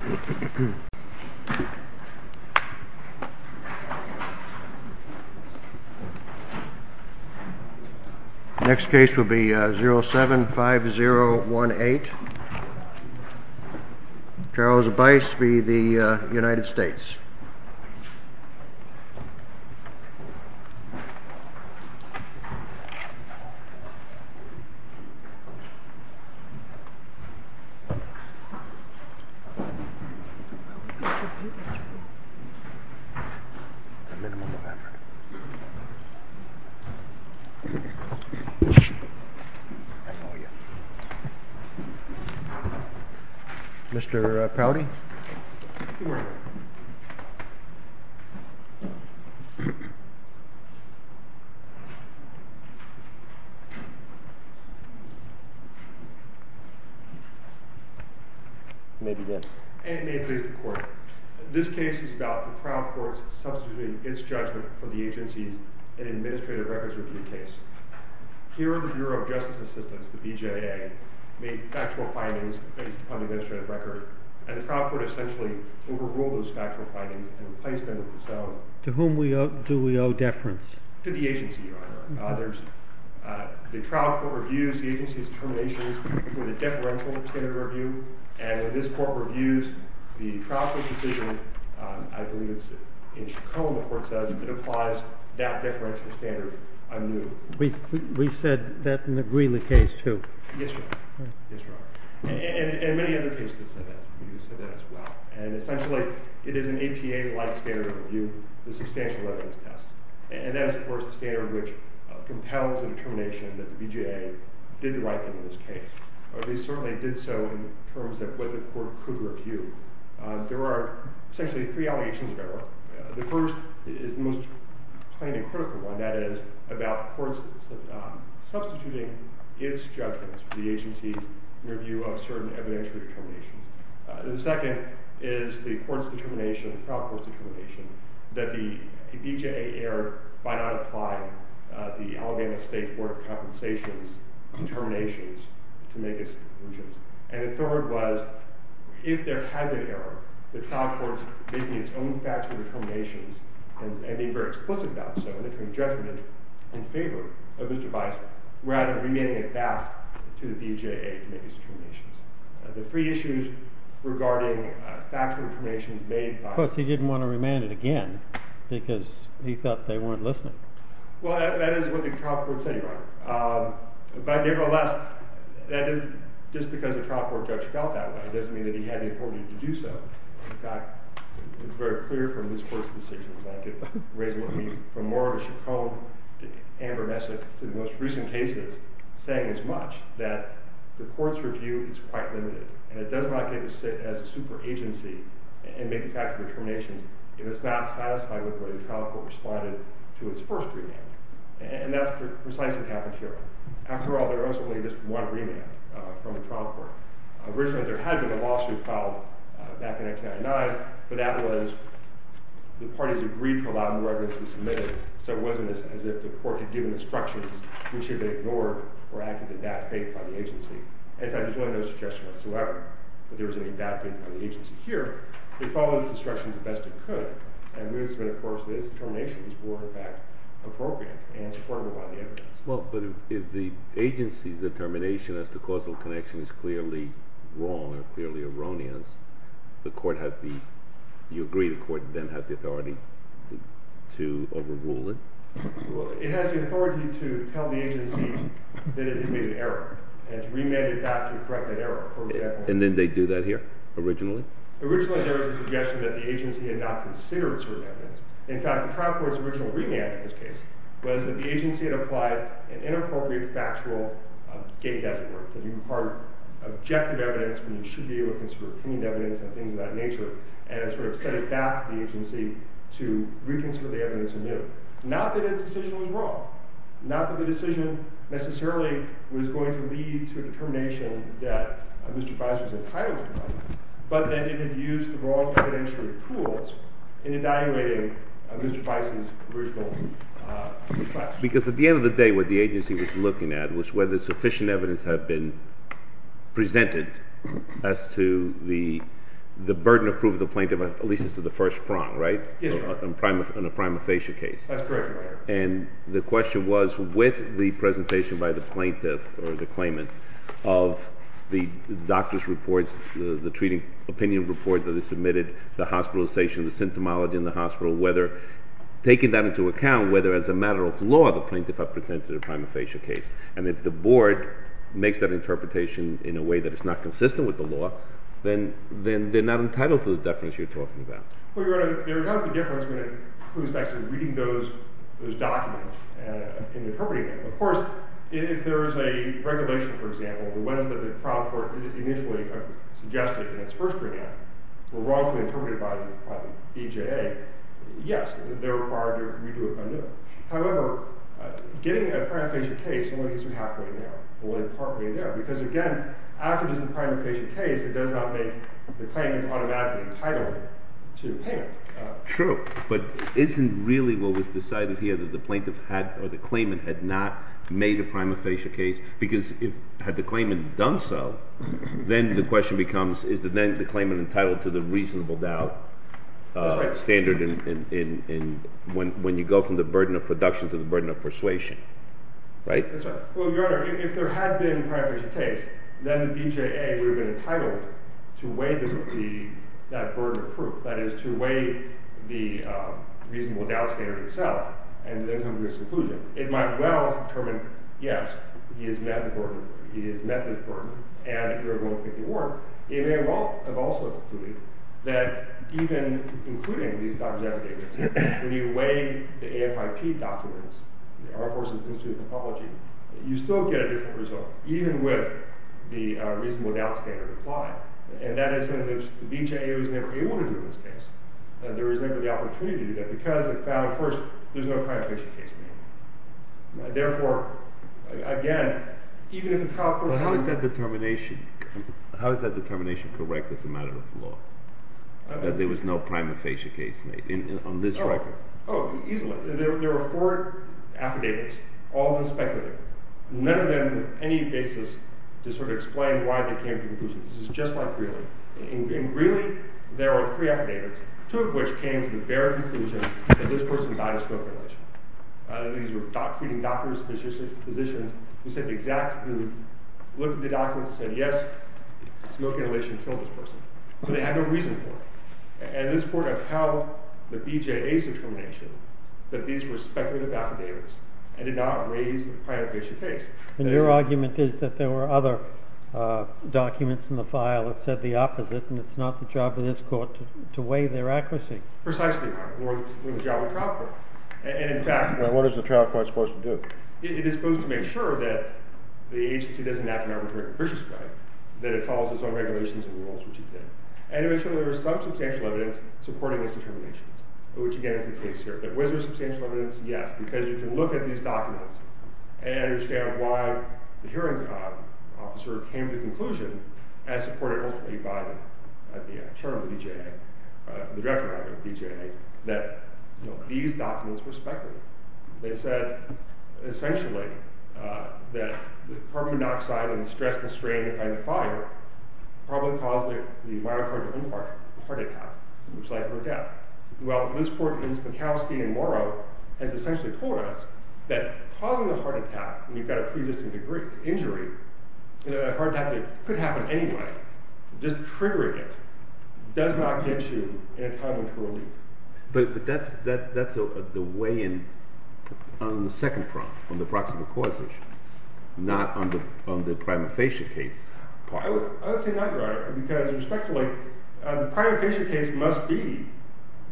The next case will be 075018, Charles Bice v. United States. This case is about the trial courts substituting its judgment for the agencies in an administrative records review case. Here, the Bureau of Justice Assistance, the BJA, made factual findings based upon the administrative record, and the trial court essentially overruled those factual findings and replaced them with its own. To whom do we owe deference? To the agency, Your Honor. The trial court reviews the agency's determinations with a deferential standard review, and when this court reviews the trial court's decision, I believe it's in Chacon, the court says, it applies that deferential standard anew. We've said that in the Greeley case, too. Yes, Your Honor. Yes, Your Honor. And many other cases have said that. We've said that as well. And essentially, it is an APA-like standard review, the substantial evidence test. And that is, of course, the standard which compels a determination that the BJA did the right thing in this case. Or they certainly did so in terms of what the court could review. There are essentially three allegations of error. The first is the most plain and critical one. That is about the court substituting its judgments for the agency's in review of certain evidentiary determinations. The second is the court's determination, the trial court's determination, that the BJA made an error by not applying the Alabama State Court of Compensation's determinations to make its conclusions. And the third was, if there had been error, the trial court's making its own factual determinations and being very explicit about so, and entering judgment in favor of this device, rather than remanding it back to the BJA to make its determinations. The three issues regarding factual determinations made by the BJA. And again, because he thought they weren't listening. Well, that is what the trial court said, Your Honor. But nevertheless, that is just because a trial court judge felt that way doesn't mean that he had the authority to do so. In fact, it's very clear from this court's decisions. I could raise it with me from more of a chaconne, amber message, to the most recent cases, saying as much, that the court's review is quite limited. And it does not get to sit as a super agency and make the factual determinations if it's not satisfied with what the trial court responded to its first remanding. And that's precisely what happened here. After all, there was only just one remand from the trial court. Originally, there had been a lawsuit filed back in 1999, but that was the parties agreed to allow new evidence to be submitted, so it wasn't as if the court had given instructions which should have been ignored or acted in bad faith by the agency. In fact, there's really no suggestion whatsoever that there was any bad faith by the agency here. It followed its instructions the best it could. And it's been, of course, that its determination was more, in fact, appropriate and supported by the evidence. Well, but if the agency's determination as to causal connection is clearly wrong or clearly erroneous, the court has the... You agree the court then has the authority to overrule it? It has the authority to tell the agency that it had made an error and to remand it back to correct that error. And then they do that here, originally? Originally, there was a suggestion that the agency had not considered certain evidence. In fact, the trial court's original remand in this case was that the agency had applied an inappropriate factual gate, as it were, to impart objective evidence when you should be able to consider opinion evidence and things of that nature and sort of set it back to the agency to reconsider the evidence anew. Not that its decision was wrong. Not that the decision necessarily was going to lead to a determination that Mr. Bison's entitled to, but that it had used the wrong evidentiary tools in evaluating Mr. Bison's original request. Because at the end of the day, what the agency was looking at was whether sufficient evidence had been presented as to the burden of proof the plaintiff has, at least as to the first prong, right? Yes, Your Honor. On a prima facie case. That's correct, Your Honor. And the question was, with the presentation by the plaintiff or the claimant of the doctor's reports, the treating opinion report that is submitted, the hospitalization, the symptomology in the hospital, whether taking that into account, whether as a matter of law the plaintiff had presented a prima facie case. And if the board makes that interpretation in a way that is not consistent with the law, then they're not entitled to the deference you're talking about. Well, Your Honor, there is a difference between who's actually reading those documents and interpreting them. Of course, if there is a regulation, for example, the ones that the trial court initially suggested in its first readout were wrongfully interpreted by the BJA, yes, they're required to redo it anew. However, getting a prima facie case only gets you halfway there, only part way there. Because again, after just a prima facie case, it does not make the claimant automatically entitled to pay. True. But isn't really what was decided here that the plaintiff had, or the claimant had not made a prima facie case? Because had the claimant done so, then the question becomes is the claimant entitled to the reasonable doubt standard when you go from the burden of production to the burden of persuasion? Right? That's right. Well, Your Honor, if there had been a prima facie case, then the BJA would have been entitled to weigh that burden of proof, that is, to weigh the reasonable doubt standard itself. And then come to its conclusion. It might well have determined, yes, he has met the burden, he has met this burden, and you're going to get the award. It may well have also concluded that even including these documents, when you weigh the AFIP documents, the Armed Forces Institute of Apology, you still get a different result, even with the reasonable doubt standard applied. And that is something the BJA was never able to do in this case. There was never the opportunity to do that because it found, first, there's no prima facie case made. Therefore, again, even if it's how a person... Well, how is that determination correct as a matter of law, that there was no prima facie case made on this record? Oh, easily. There were four affidavits, all unspeculative, none of them with any basis to sort of explain why they came to conclusions. This is just like Greeley. In Greeley, there are three affidavits, two of which came to the bare conclusion that this person died of smoke inhalation. These were treating doctors, physicians, who looked at the documents and said, yes, smoke inhalation killed this person, but they had no reason for it. And this court upheld the BJA's determination that these were speculative affidavits and did not raise the prima facie case. And your argument is that there were other documents in the file that said the opposite, and it's not the job of this court to weigh their accuracy. Precisely, Your Honor. More than the job of the trial court. And in fact... What is the trial court supposed to do? It is supposed to make sure that the agency doesn't act in an arbitrary and capricious way, that it follows its own regulations and rules, which it did, and to make sure there was some substantial evidence supporting this determination, which again is the case here. But was there substantial evidence? Yes. Because you can look at these documents and understand why the hearing officer came to the conclusion as supported ultimately by the attorney of the BJA, the director of the BJA, that these documents were speculative. They said, essentially, that carbon monoxide and the stress and strain of the fire probably caused the myocardial infarct, the heart attack, which led to her death. Well, this court in Spokowski and Morrow has essentially told us that causing a heart attack, when you've got a pre-existing injury, a heart attack that could happen anyway, just triggering it, does not get you in a time of parole meeting. But that's the way in on the second prong, on the proximal causation, not on the prima facie case. I would say not, Your Honor, because, respectfully, the prima facie case must be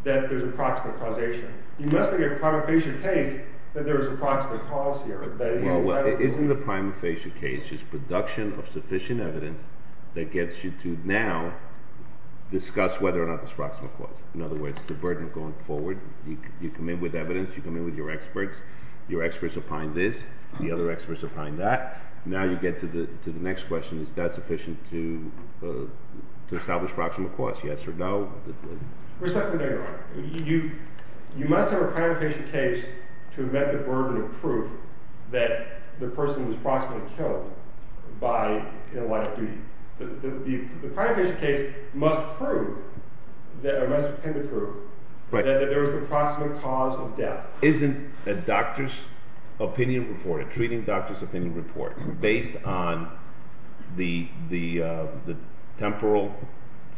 that there's a proximal causation. You must make a prima facie case that there's a proximal cause here. Well, isn't the prima facie case just production of sufficient evidence that gets you to now discuss whether or not there's proximal cause? In other words, the burden of going forward, you come in with evidence, you come in with your experts, your experts opine this, the other experts opine that. Now you get to the next question, is that sufficient to establish proximal cause? Yes or no? Respectfully, Your Honor, you must have a prima facie case to have met the burden of proof that the person was proximally killed in a life of duty. The prima facie case must prove, or must attempt to prove, that there is a proximal cause of death. Isn't a doctor's opinion report, a treating doctor's opinion report, based on the temporal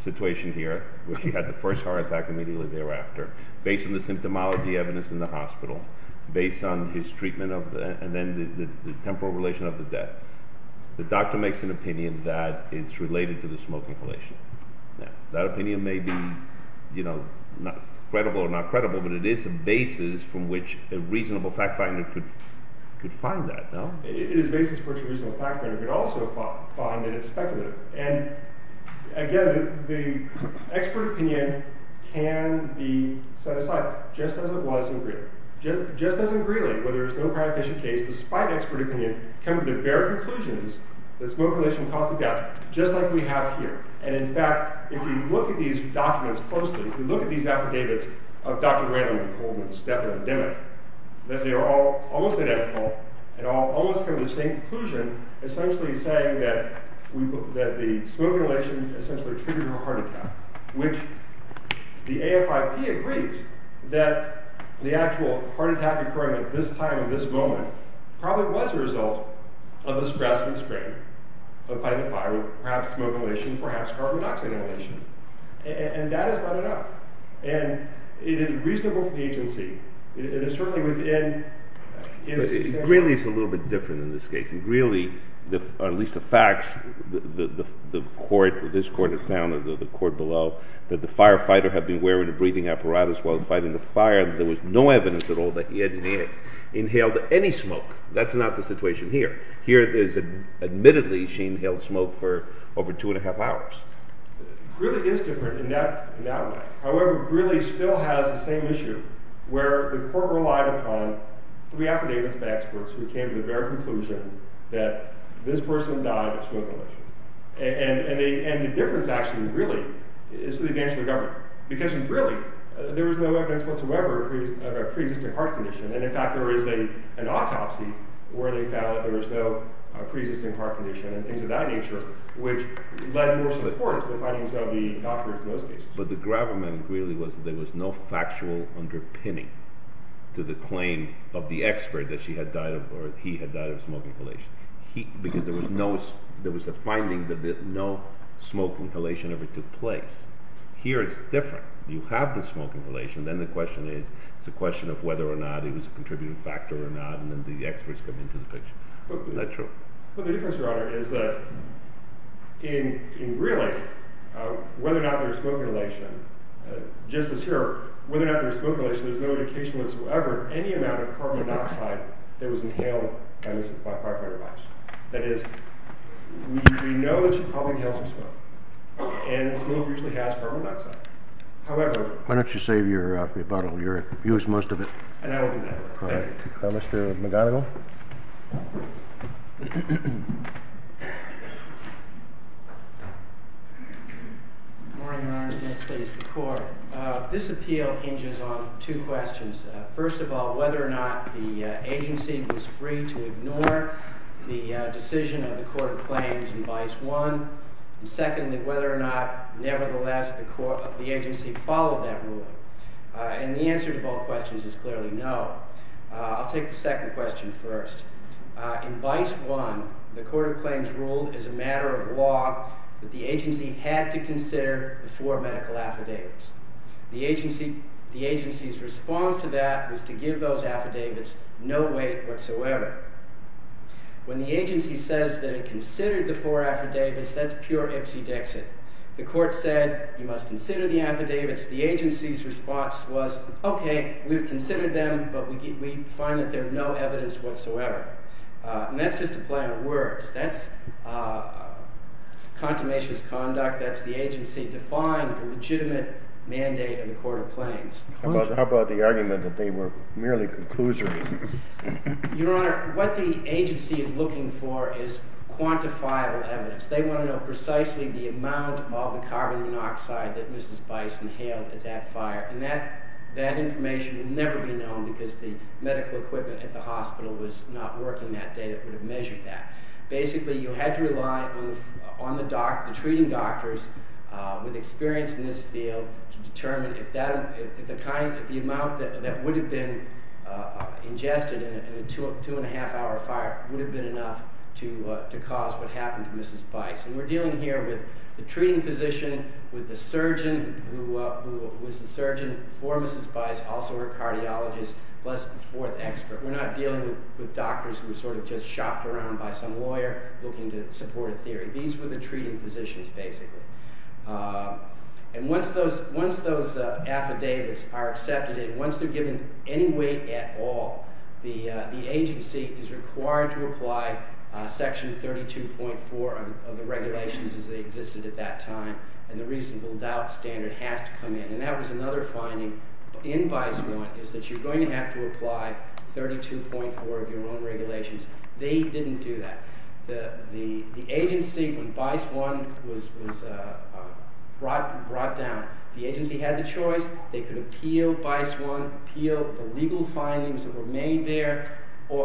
situation here, where she had the first heart attack immediately thereafter, based on the symptomology evidence in the hospital, based on his treatment, and then the temporal relation of the death, the doctor makes an opinion that it's related to the smoking relation. That opinion may be credible or not credible, but it is a basis from which a reasonable fact finder could find that. It is a basis from which a reasonable fact finder could also find that it's speculative. Again, the expert opinion can be set aside, just as it was in Greeley. Just as in Greeley, where there is no prima facie case, despite expert opinion, come to the very conclusions that smoking relation caused the death, just like we have here. And in fact, if you look at these documents closely, if you look at these affidavits of Dr. Randall and Coleman, the step epidemic, that they are all almost identical, and all almost come to the same conclusion, essentially saying that the smoking relation essentially treated her heart attack, which the AFIP agrees that the actual heart attack occurring at this time, at this moment, probably was a result of the stress and strain of fighting the fire, perhaps smoking relation, perhaps carbon dioxide relation. And that is not enough. And it is reasonable for the agency. It is certainly within... Greeley is a little bit different in this case. Greeley, at least the facts, the court, this court has found, the court below, that the firefighter had been wearing a breathing apparatus while fighting the fire. There was no evidence at all that he had inhaled any smoke. That's not the situation here. Here, admittedly, she inhaled smoke for over two and a half hours. Greeley is different in that way. where the court relied upon three affidavits of experts who came to the very conclusion that this person died of smoking relation. And the difference actually, really, is to the advantage of the government. Because, really, there was no evidence whatsoever of a pre-existing heart condition. And, in fact, there is an autopsy where they found that there was no pre-existing heart condition and things of that nature, which led more support to the findings of the doctors in those cases. But the gravamen, Greeley, was that there was no factual underpinning to the claim of the expert that he had died of smoke inhalation. Because there was a finding that no smoke inhalation ever took place. Here, it's different. You have the smoke inhalation. Then the question is whether or not it was a contributing factor or not. And then the experts come into the picture. Not true. But the difference, Your Honor, is that in Greeley, whether or not there was smoke inhalation, just as here, whether or not there was smoke inhalation, there was no indication whatsoever of any amount of carbon monoxide that was inhaled by this firefighter. That is, we know that she probably inhaled some smoke. And smoke usually has carbon monoxide. However... Why don't you save your rebuttal? You used most of it. And I will do that. Thank you. Mr. McGonigal? Good morning, Your Honor. Next, please, the Court. This appeal hinges on two questions. First of all, whether or not the agency was free to ignore the decision of the Court of Claims in Bice 1. And secondly, whether or not, nevertheless, the agency followed that ruling. And the answer to both questions is clearly no. I'll take the second question first. In Bice 1, the Court of Claims ruled, as a matter of law, that the agency had to consider the four medical affidavits. The agency's response to that was to give those affidavits no weight whatsoever. When the agency says that it considered the four affidavits, that's pure ipsy-dexy. The Court said, you must consider the affidavits. The agency's response was, okay, we've considered them, but we find that there's no evidence whatsoever. And that's just a plan of words. That's a contaminationist conduct. That's the agency defying the legitimate mandate of the Court of Claims. How about the argument that they were merely conclusory? Your Honor, what the agency is looking for is quantifiable evidence. They want to know precisely the amount of carbon monoxide that Mrs. Bice inhaled at that fire. And that information will never be known because the medical equipment at the hospital was not working that day. It would have measured that. Basically, you had to rely on the treating doctor, with experience in this field, to determine if the amount that would have been ingested in a two-and-a-half-hour fire would have been enough to cause what happened to Mrs. Bice. And we're dealing here with the treating physician, with the surgeon who was the surgeon for Mrs. Bice, also her cardiologist, plus the fourth expert. We're not dealing with doctors who were sort of just shopped around by some lawyer looking to support a theory. These were the treating physicians, basically. And once those affidavits are accepted and once they're given any weight at all, the agency is required to apply Section 32.4 of the regulations as they existed at that time. And the reasonable doubt standard has to come in. And that was another finding in Bice 1 is that you're going to have to apply 32.4 of your own regulations. They didn't do that. The agency, when Bice 1 was brought down, the agency had the choice. They could appeal Bice 1, appeal the legal findings that were made there,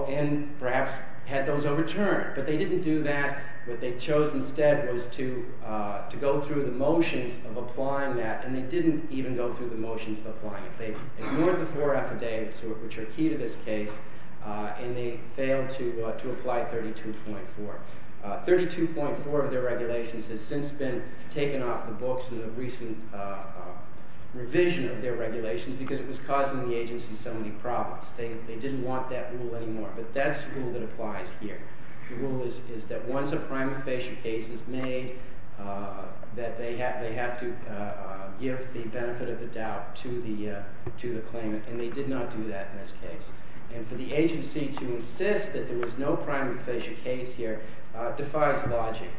and perhaps had those overturned. But they didn't do that. What they chose instead was to go through the motions of applying that, and they didn't even go through the motions of applying it. They ignored the four affidavits, which are key to this case, and they failed to apply 32.4. 32.4 of their regulations has since been taken off the books in the recent revision of their regulations because it was causing the agency so many problems. They didn't want that rule anymore. But that's the rule that applies here. The rule is that once a prima facie case is made, that they have to give the benefit of the doubt to the claimant, and they did not do that in this case. And for the agency to insist that there was no prima facie case here defies logic.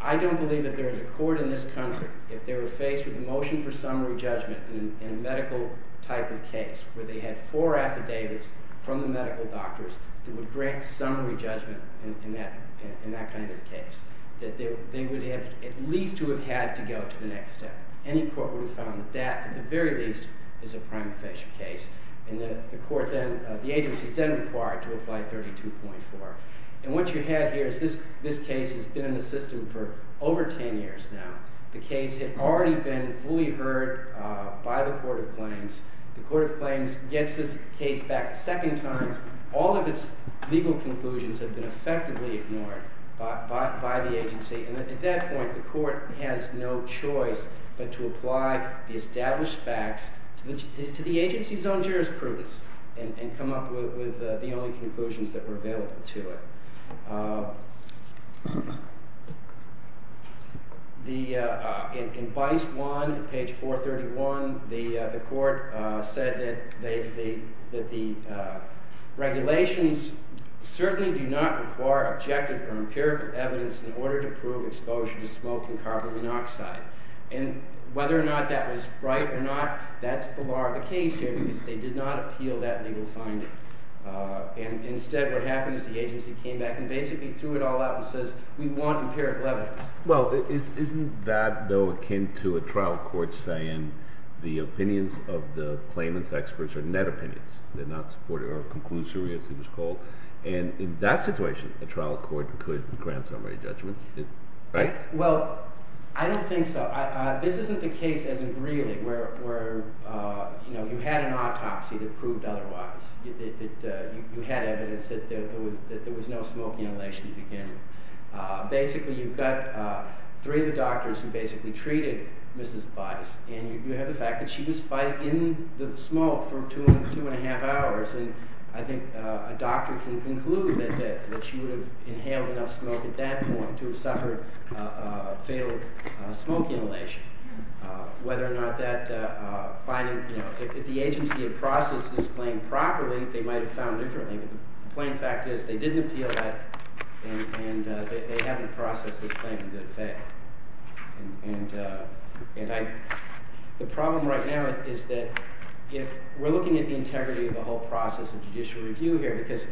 I don't believe that there is a court in this country if they were faced with a motion for summary judgment in a medical type of case where they had four affidavits from the medical doctors that would grant summary judgment in that kind of case, that they would have at least to have had to go to the next step. Any court would have found that, at the very least, is a prima facie case. And the agency is then required to apply 32.4. And what you have here is this case has been in the system for over ten years now. The case had already been fully heard by the Court of Claims. The Court of Claims gets this case back a second time. All of its legal conclusions have been effectively ignored by the agency. And at that point, the court has no choice but to apply the established facts to the agency's own jurisprudence and come up with the only conclusions that were available to it. In Bice 1, page 431, the court said that the regulations certainly do not require objective or empirical evidence in order to prove exposure to smoke and carbon monoxide. And whether or not that was right or not, that's the law of the case here because they did not appeal that legal finding. And instead, what happened is the agency came back and basically threw it all out and says, we want empirical evidence. Well, isn't that, though, akin to a trial court saying the opinions of the claimants' experts are net opinions? They're not supported or conclusive, as it was called. And in that situation, a trial court could grant summary judgments, right? Well, I don't think so. This isn't the case, as in Greeley, where you had an autopsy that proved otherwise, that you had evidence that there was no smoke inhalation at the beginning. Basically, you've got three of the doctors who basically treated Mrs. Bice, and you have the fact that she was fighting in the smoke for two and a half hours. And I think a doctor can conclude that she would have inhaled enough smoke at that point to have suffered fatal smoke inhalation. Whether or not that finding... You know, if the agency had processed this claim properly, they might have found differently. But the plain fact is they didn't appeal that, and they haven't processed this claim to fail. And I... The problem right now is that we're looking at the integrity of the whole process of judicial review here, because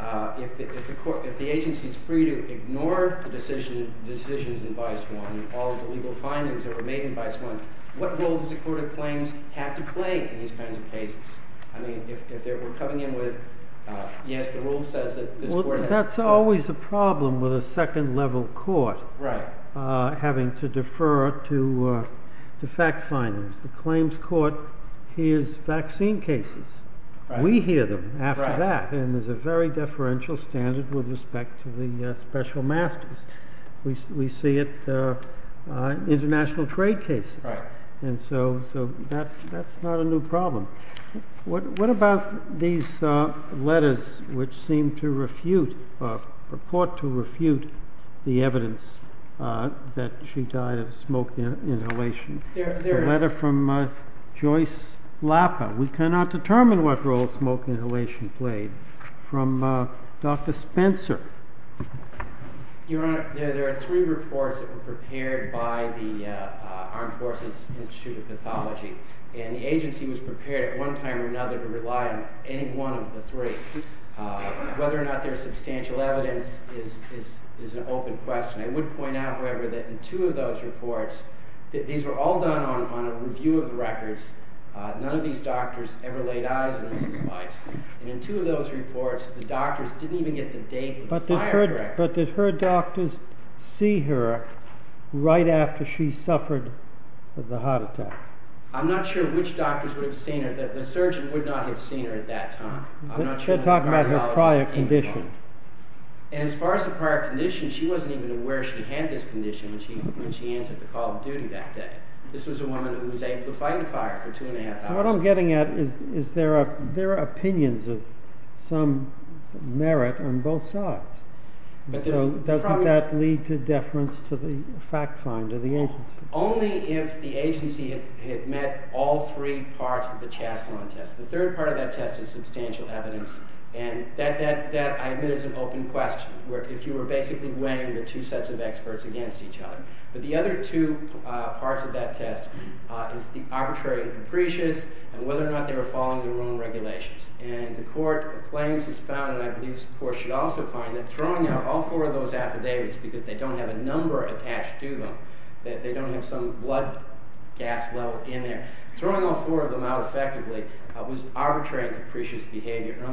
if the agency's free to ignore the decisions in Bice 1, all of the legal findings that were made in Bice 1, what role does the court of claims have to play in these kinds of cases? I mean, if they were coming in with, yes, the rule says that this court has... Well, that's always a problem with a second-level court having to defer to fact findings. The claims court hears vaccine cases. We hear them after that, and there's a very deferential standard with respect to the special masters. We see it in international trade cases. And so that's not a new problem. What about these letters which seem to refute, or purport to refute, the evidence that she died of smoke inhalation? The letter from Joyce Lappa. We cannot determine what role smoke inhalation played. From Dr. Spencer. Your Honor, there are three reports that were prepared by the Armed Forces Institute of Pathology, and the agency was prepared at one time or another to rely on any one of the three. Whether or not there's substantial evidence is an open question. I would point out, however, that in two of those reports, these were all done on a review of the records. None of these doctors ever laid eyes on Mrs. Weiss. And in two of those reports, the doctors didn't even get the date of the fire director. But did her doctors see her right after she suffered the heart attack? I'm not sure which doctors would have seen her. The surgeon would not have seen her at that time. They're talking about her prior condition. And as far as the prior condition, she wasn't even aware she had this condition when she answered the call of duty that day. This was a woman who was able to fight a fire for two and a half hours. What I'm getting at is there are opinions of some merit on both sides. So doesn't that lead to deference to the fact finder, the agency? Only if the agency had met all three parts of the Chaslon test. The third part of that test is substantial evidence, and that, I admit, is an open question, if you were basically weighing the two sets of experts against each other. But the other two parts of that test is the arbitrary and capricious and whether or not they were following their own regulations. And the court claims it's found, and I believe this court should also find, that throwing out all four of those affidavits because they don't have a number attached to them, they don't have some blood gas level in there, throwing all four of them out effectively was arbitrary and capricious behavior. And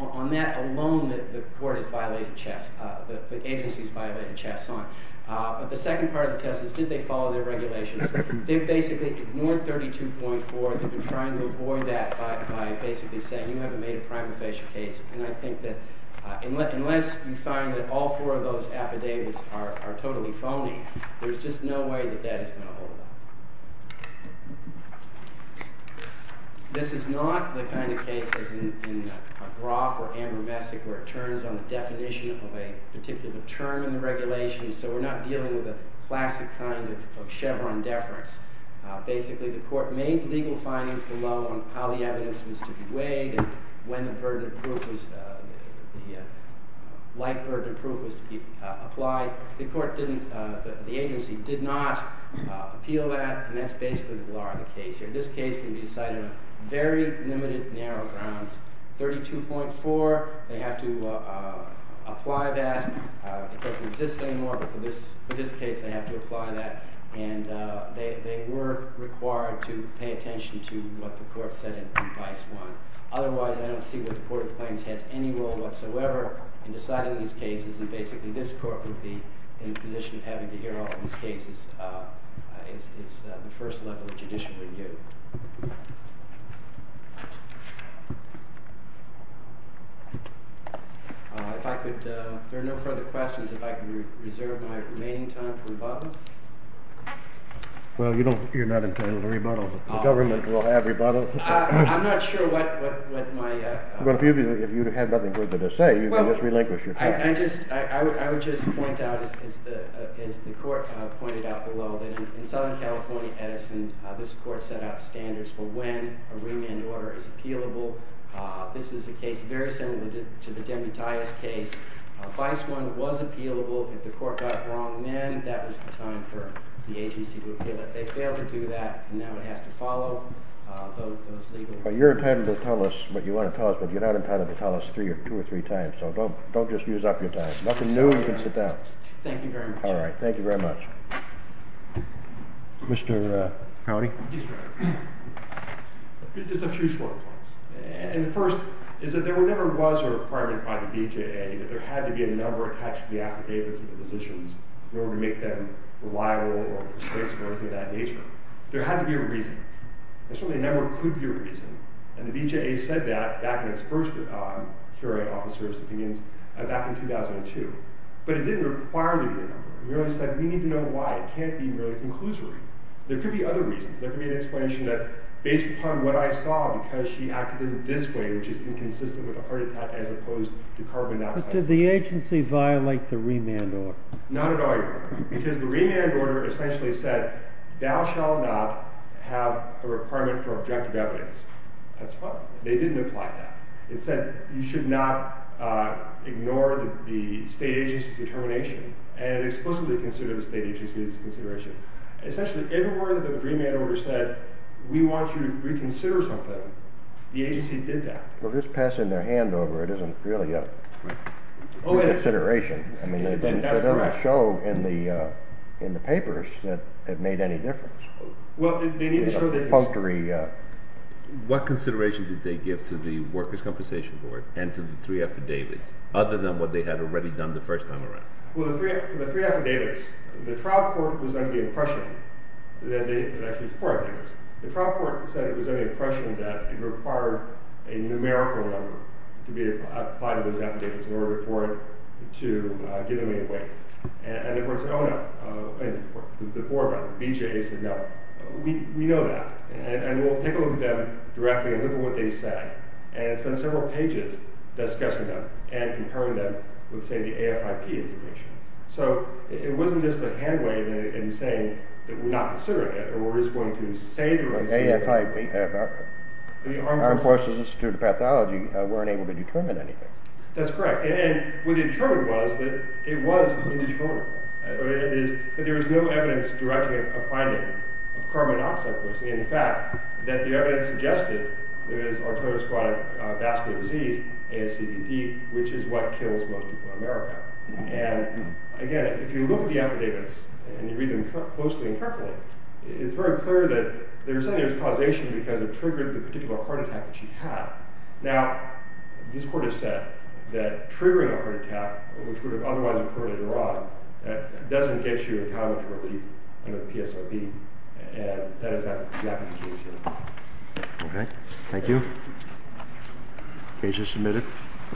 on that alone, the agency's violated Chaslon. But the second part of the test is, did they follow their regulations? They basically ignored 32.4. They've been trying to avoid that by basically saying, you haven't made a prima facie case. And I think that unless you find that all four of those affidavits are totally phony, there's just no way that that is going to hold up. This is not the kind of case as in Groff or Amber Messick where it turns on the definition of a particular term in the regulation so we're not dealing with a classic kind of Chevron deference. Basically, the court made legal findings below on how the evidence was to be weighed and when the light burden of proof was to be applied. The agency did not appeal that, and that's basically the glory of the case here. This case can be decided on very limited narrow grounds. 32.4, they have to apply that. It doesn't exist anymore, but for this case they have to apply that. And they were required to pay attention to what the court said in Vice 1. Otherwise, I don't see what the court claims has any role whatsoever in deciding these cases and basically this court would be in a position of having to hear all of these cases is the first level of judicial review. Thank you. If I could, there are no further questions. If I could reserve my remaining time for rebuttal. Well, you're not entitled to rebuttal. The government will have rebuttal. I'm not sure what my... Well, if you had nothing further to say, you can just relinquish your time. I would just point out, as the court pointed out below, that in Southern California Edison, this court set out standards for when a remand order is appealable. This is a case very similar to the Demutias case. Vice 1 was appealable. If the court got wrong men, that was the time for the agency to appeal it. They failed to do that and now it has to follow those legal... Well, you're entitled to tell us what you want to tell us, but you're not entitled to tell us three or two or three times, so don't just use up your time. Nothing new, you can sit down. Thank you very much. All right, thank you very much. Mr. Cownie? Yes, Your Honor. Just a few short points. And the first is that there never was a requirement by the BJA that there had to be a number attached to the affidavits of the physicians in order to make them reliable or responsible or anything of that nature. There had to be a reason. There certainly never could be a reason. And the BJA said that back in its first hearing officers' opinions back in 2002. But it didn't require there to be a number. It merely said we need to know why. It can't be merely conclusory. There could be other reasons. There could be an explanation that based upon what I saw, because she acted in this way, which is inconsistent with a heart attack as opposed to carbon dioxide... But did the agency violate the remand order? Not at all, Your Honor. Because the remand order essentially said thou shall not have a requirement for objective evidence. That's fine. They didn't apply that. It said you should not ignore the state agency's determination. And it explicitly considered the state agency's consideration. Essentially, if it were that the remand order said we want you to reconsider something, the agency did that. Well, just passing their hand over, it isn't really a consideration. I mean, it doesn't show in the papers that it made any difference. Well, they need to show that it's... It's a paltry... What consideration did they give to the workers' compensation board and to the three affidavits other than what they had already done the first time around? Well, for the three affidavits, the trial court was under the impression that they... Actually, four affidavits. The trial court said it was under the impression that it required a numerical number to be applied to those affidavits in order for it to give them any weight. And the court said, oh, no. The board member, BJA, said, no. We know that. And we'll take a look at them directly and look at what they say. And it's been several pages discussing them and comparing them with, say, the AFIP information. So it wasn't just a hand wave in saying that we're not considering it or we're just going to say... The AFIP... The Armed Forces Institute of Pathology weren't able to determine anything. That's correct. And what they determined was that it was indeterminable. That there was no evidence directing a finding of carbon monoxide poisoning. In fact, that the evidence suggested there is arteriosclerotic vascular disease, ASCDD, which is what kills most people in America. And, again, if you look at the affidavits and you read them closely and carefully, it's very clear that they're saying there's causation because it triggered the particular heart attack that she had. Now, this court has said that triggering a heart attack, which would have otherwise occurred in Iran, doesn't get you a time of relief under the PSRB. And that is not exactly the case here. Okay. Thank you. Case is submitted.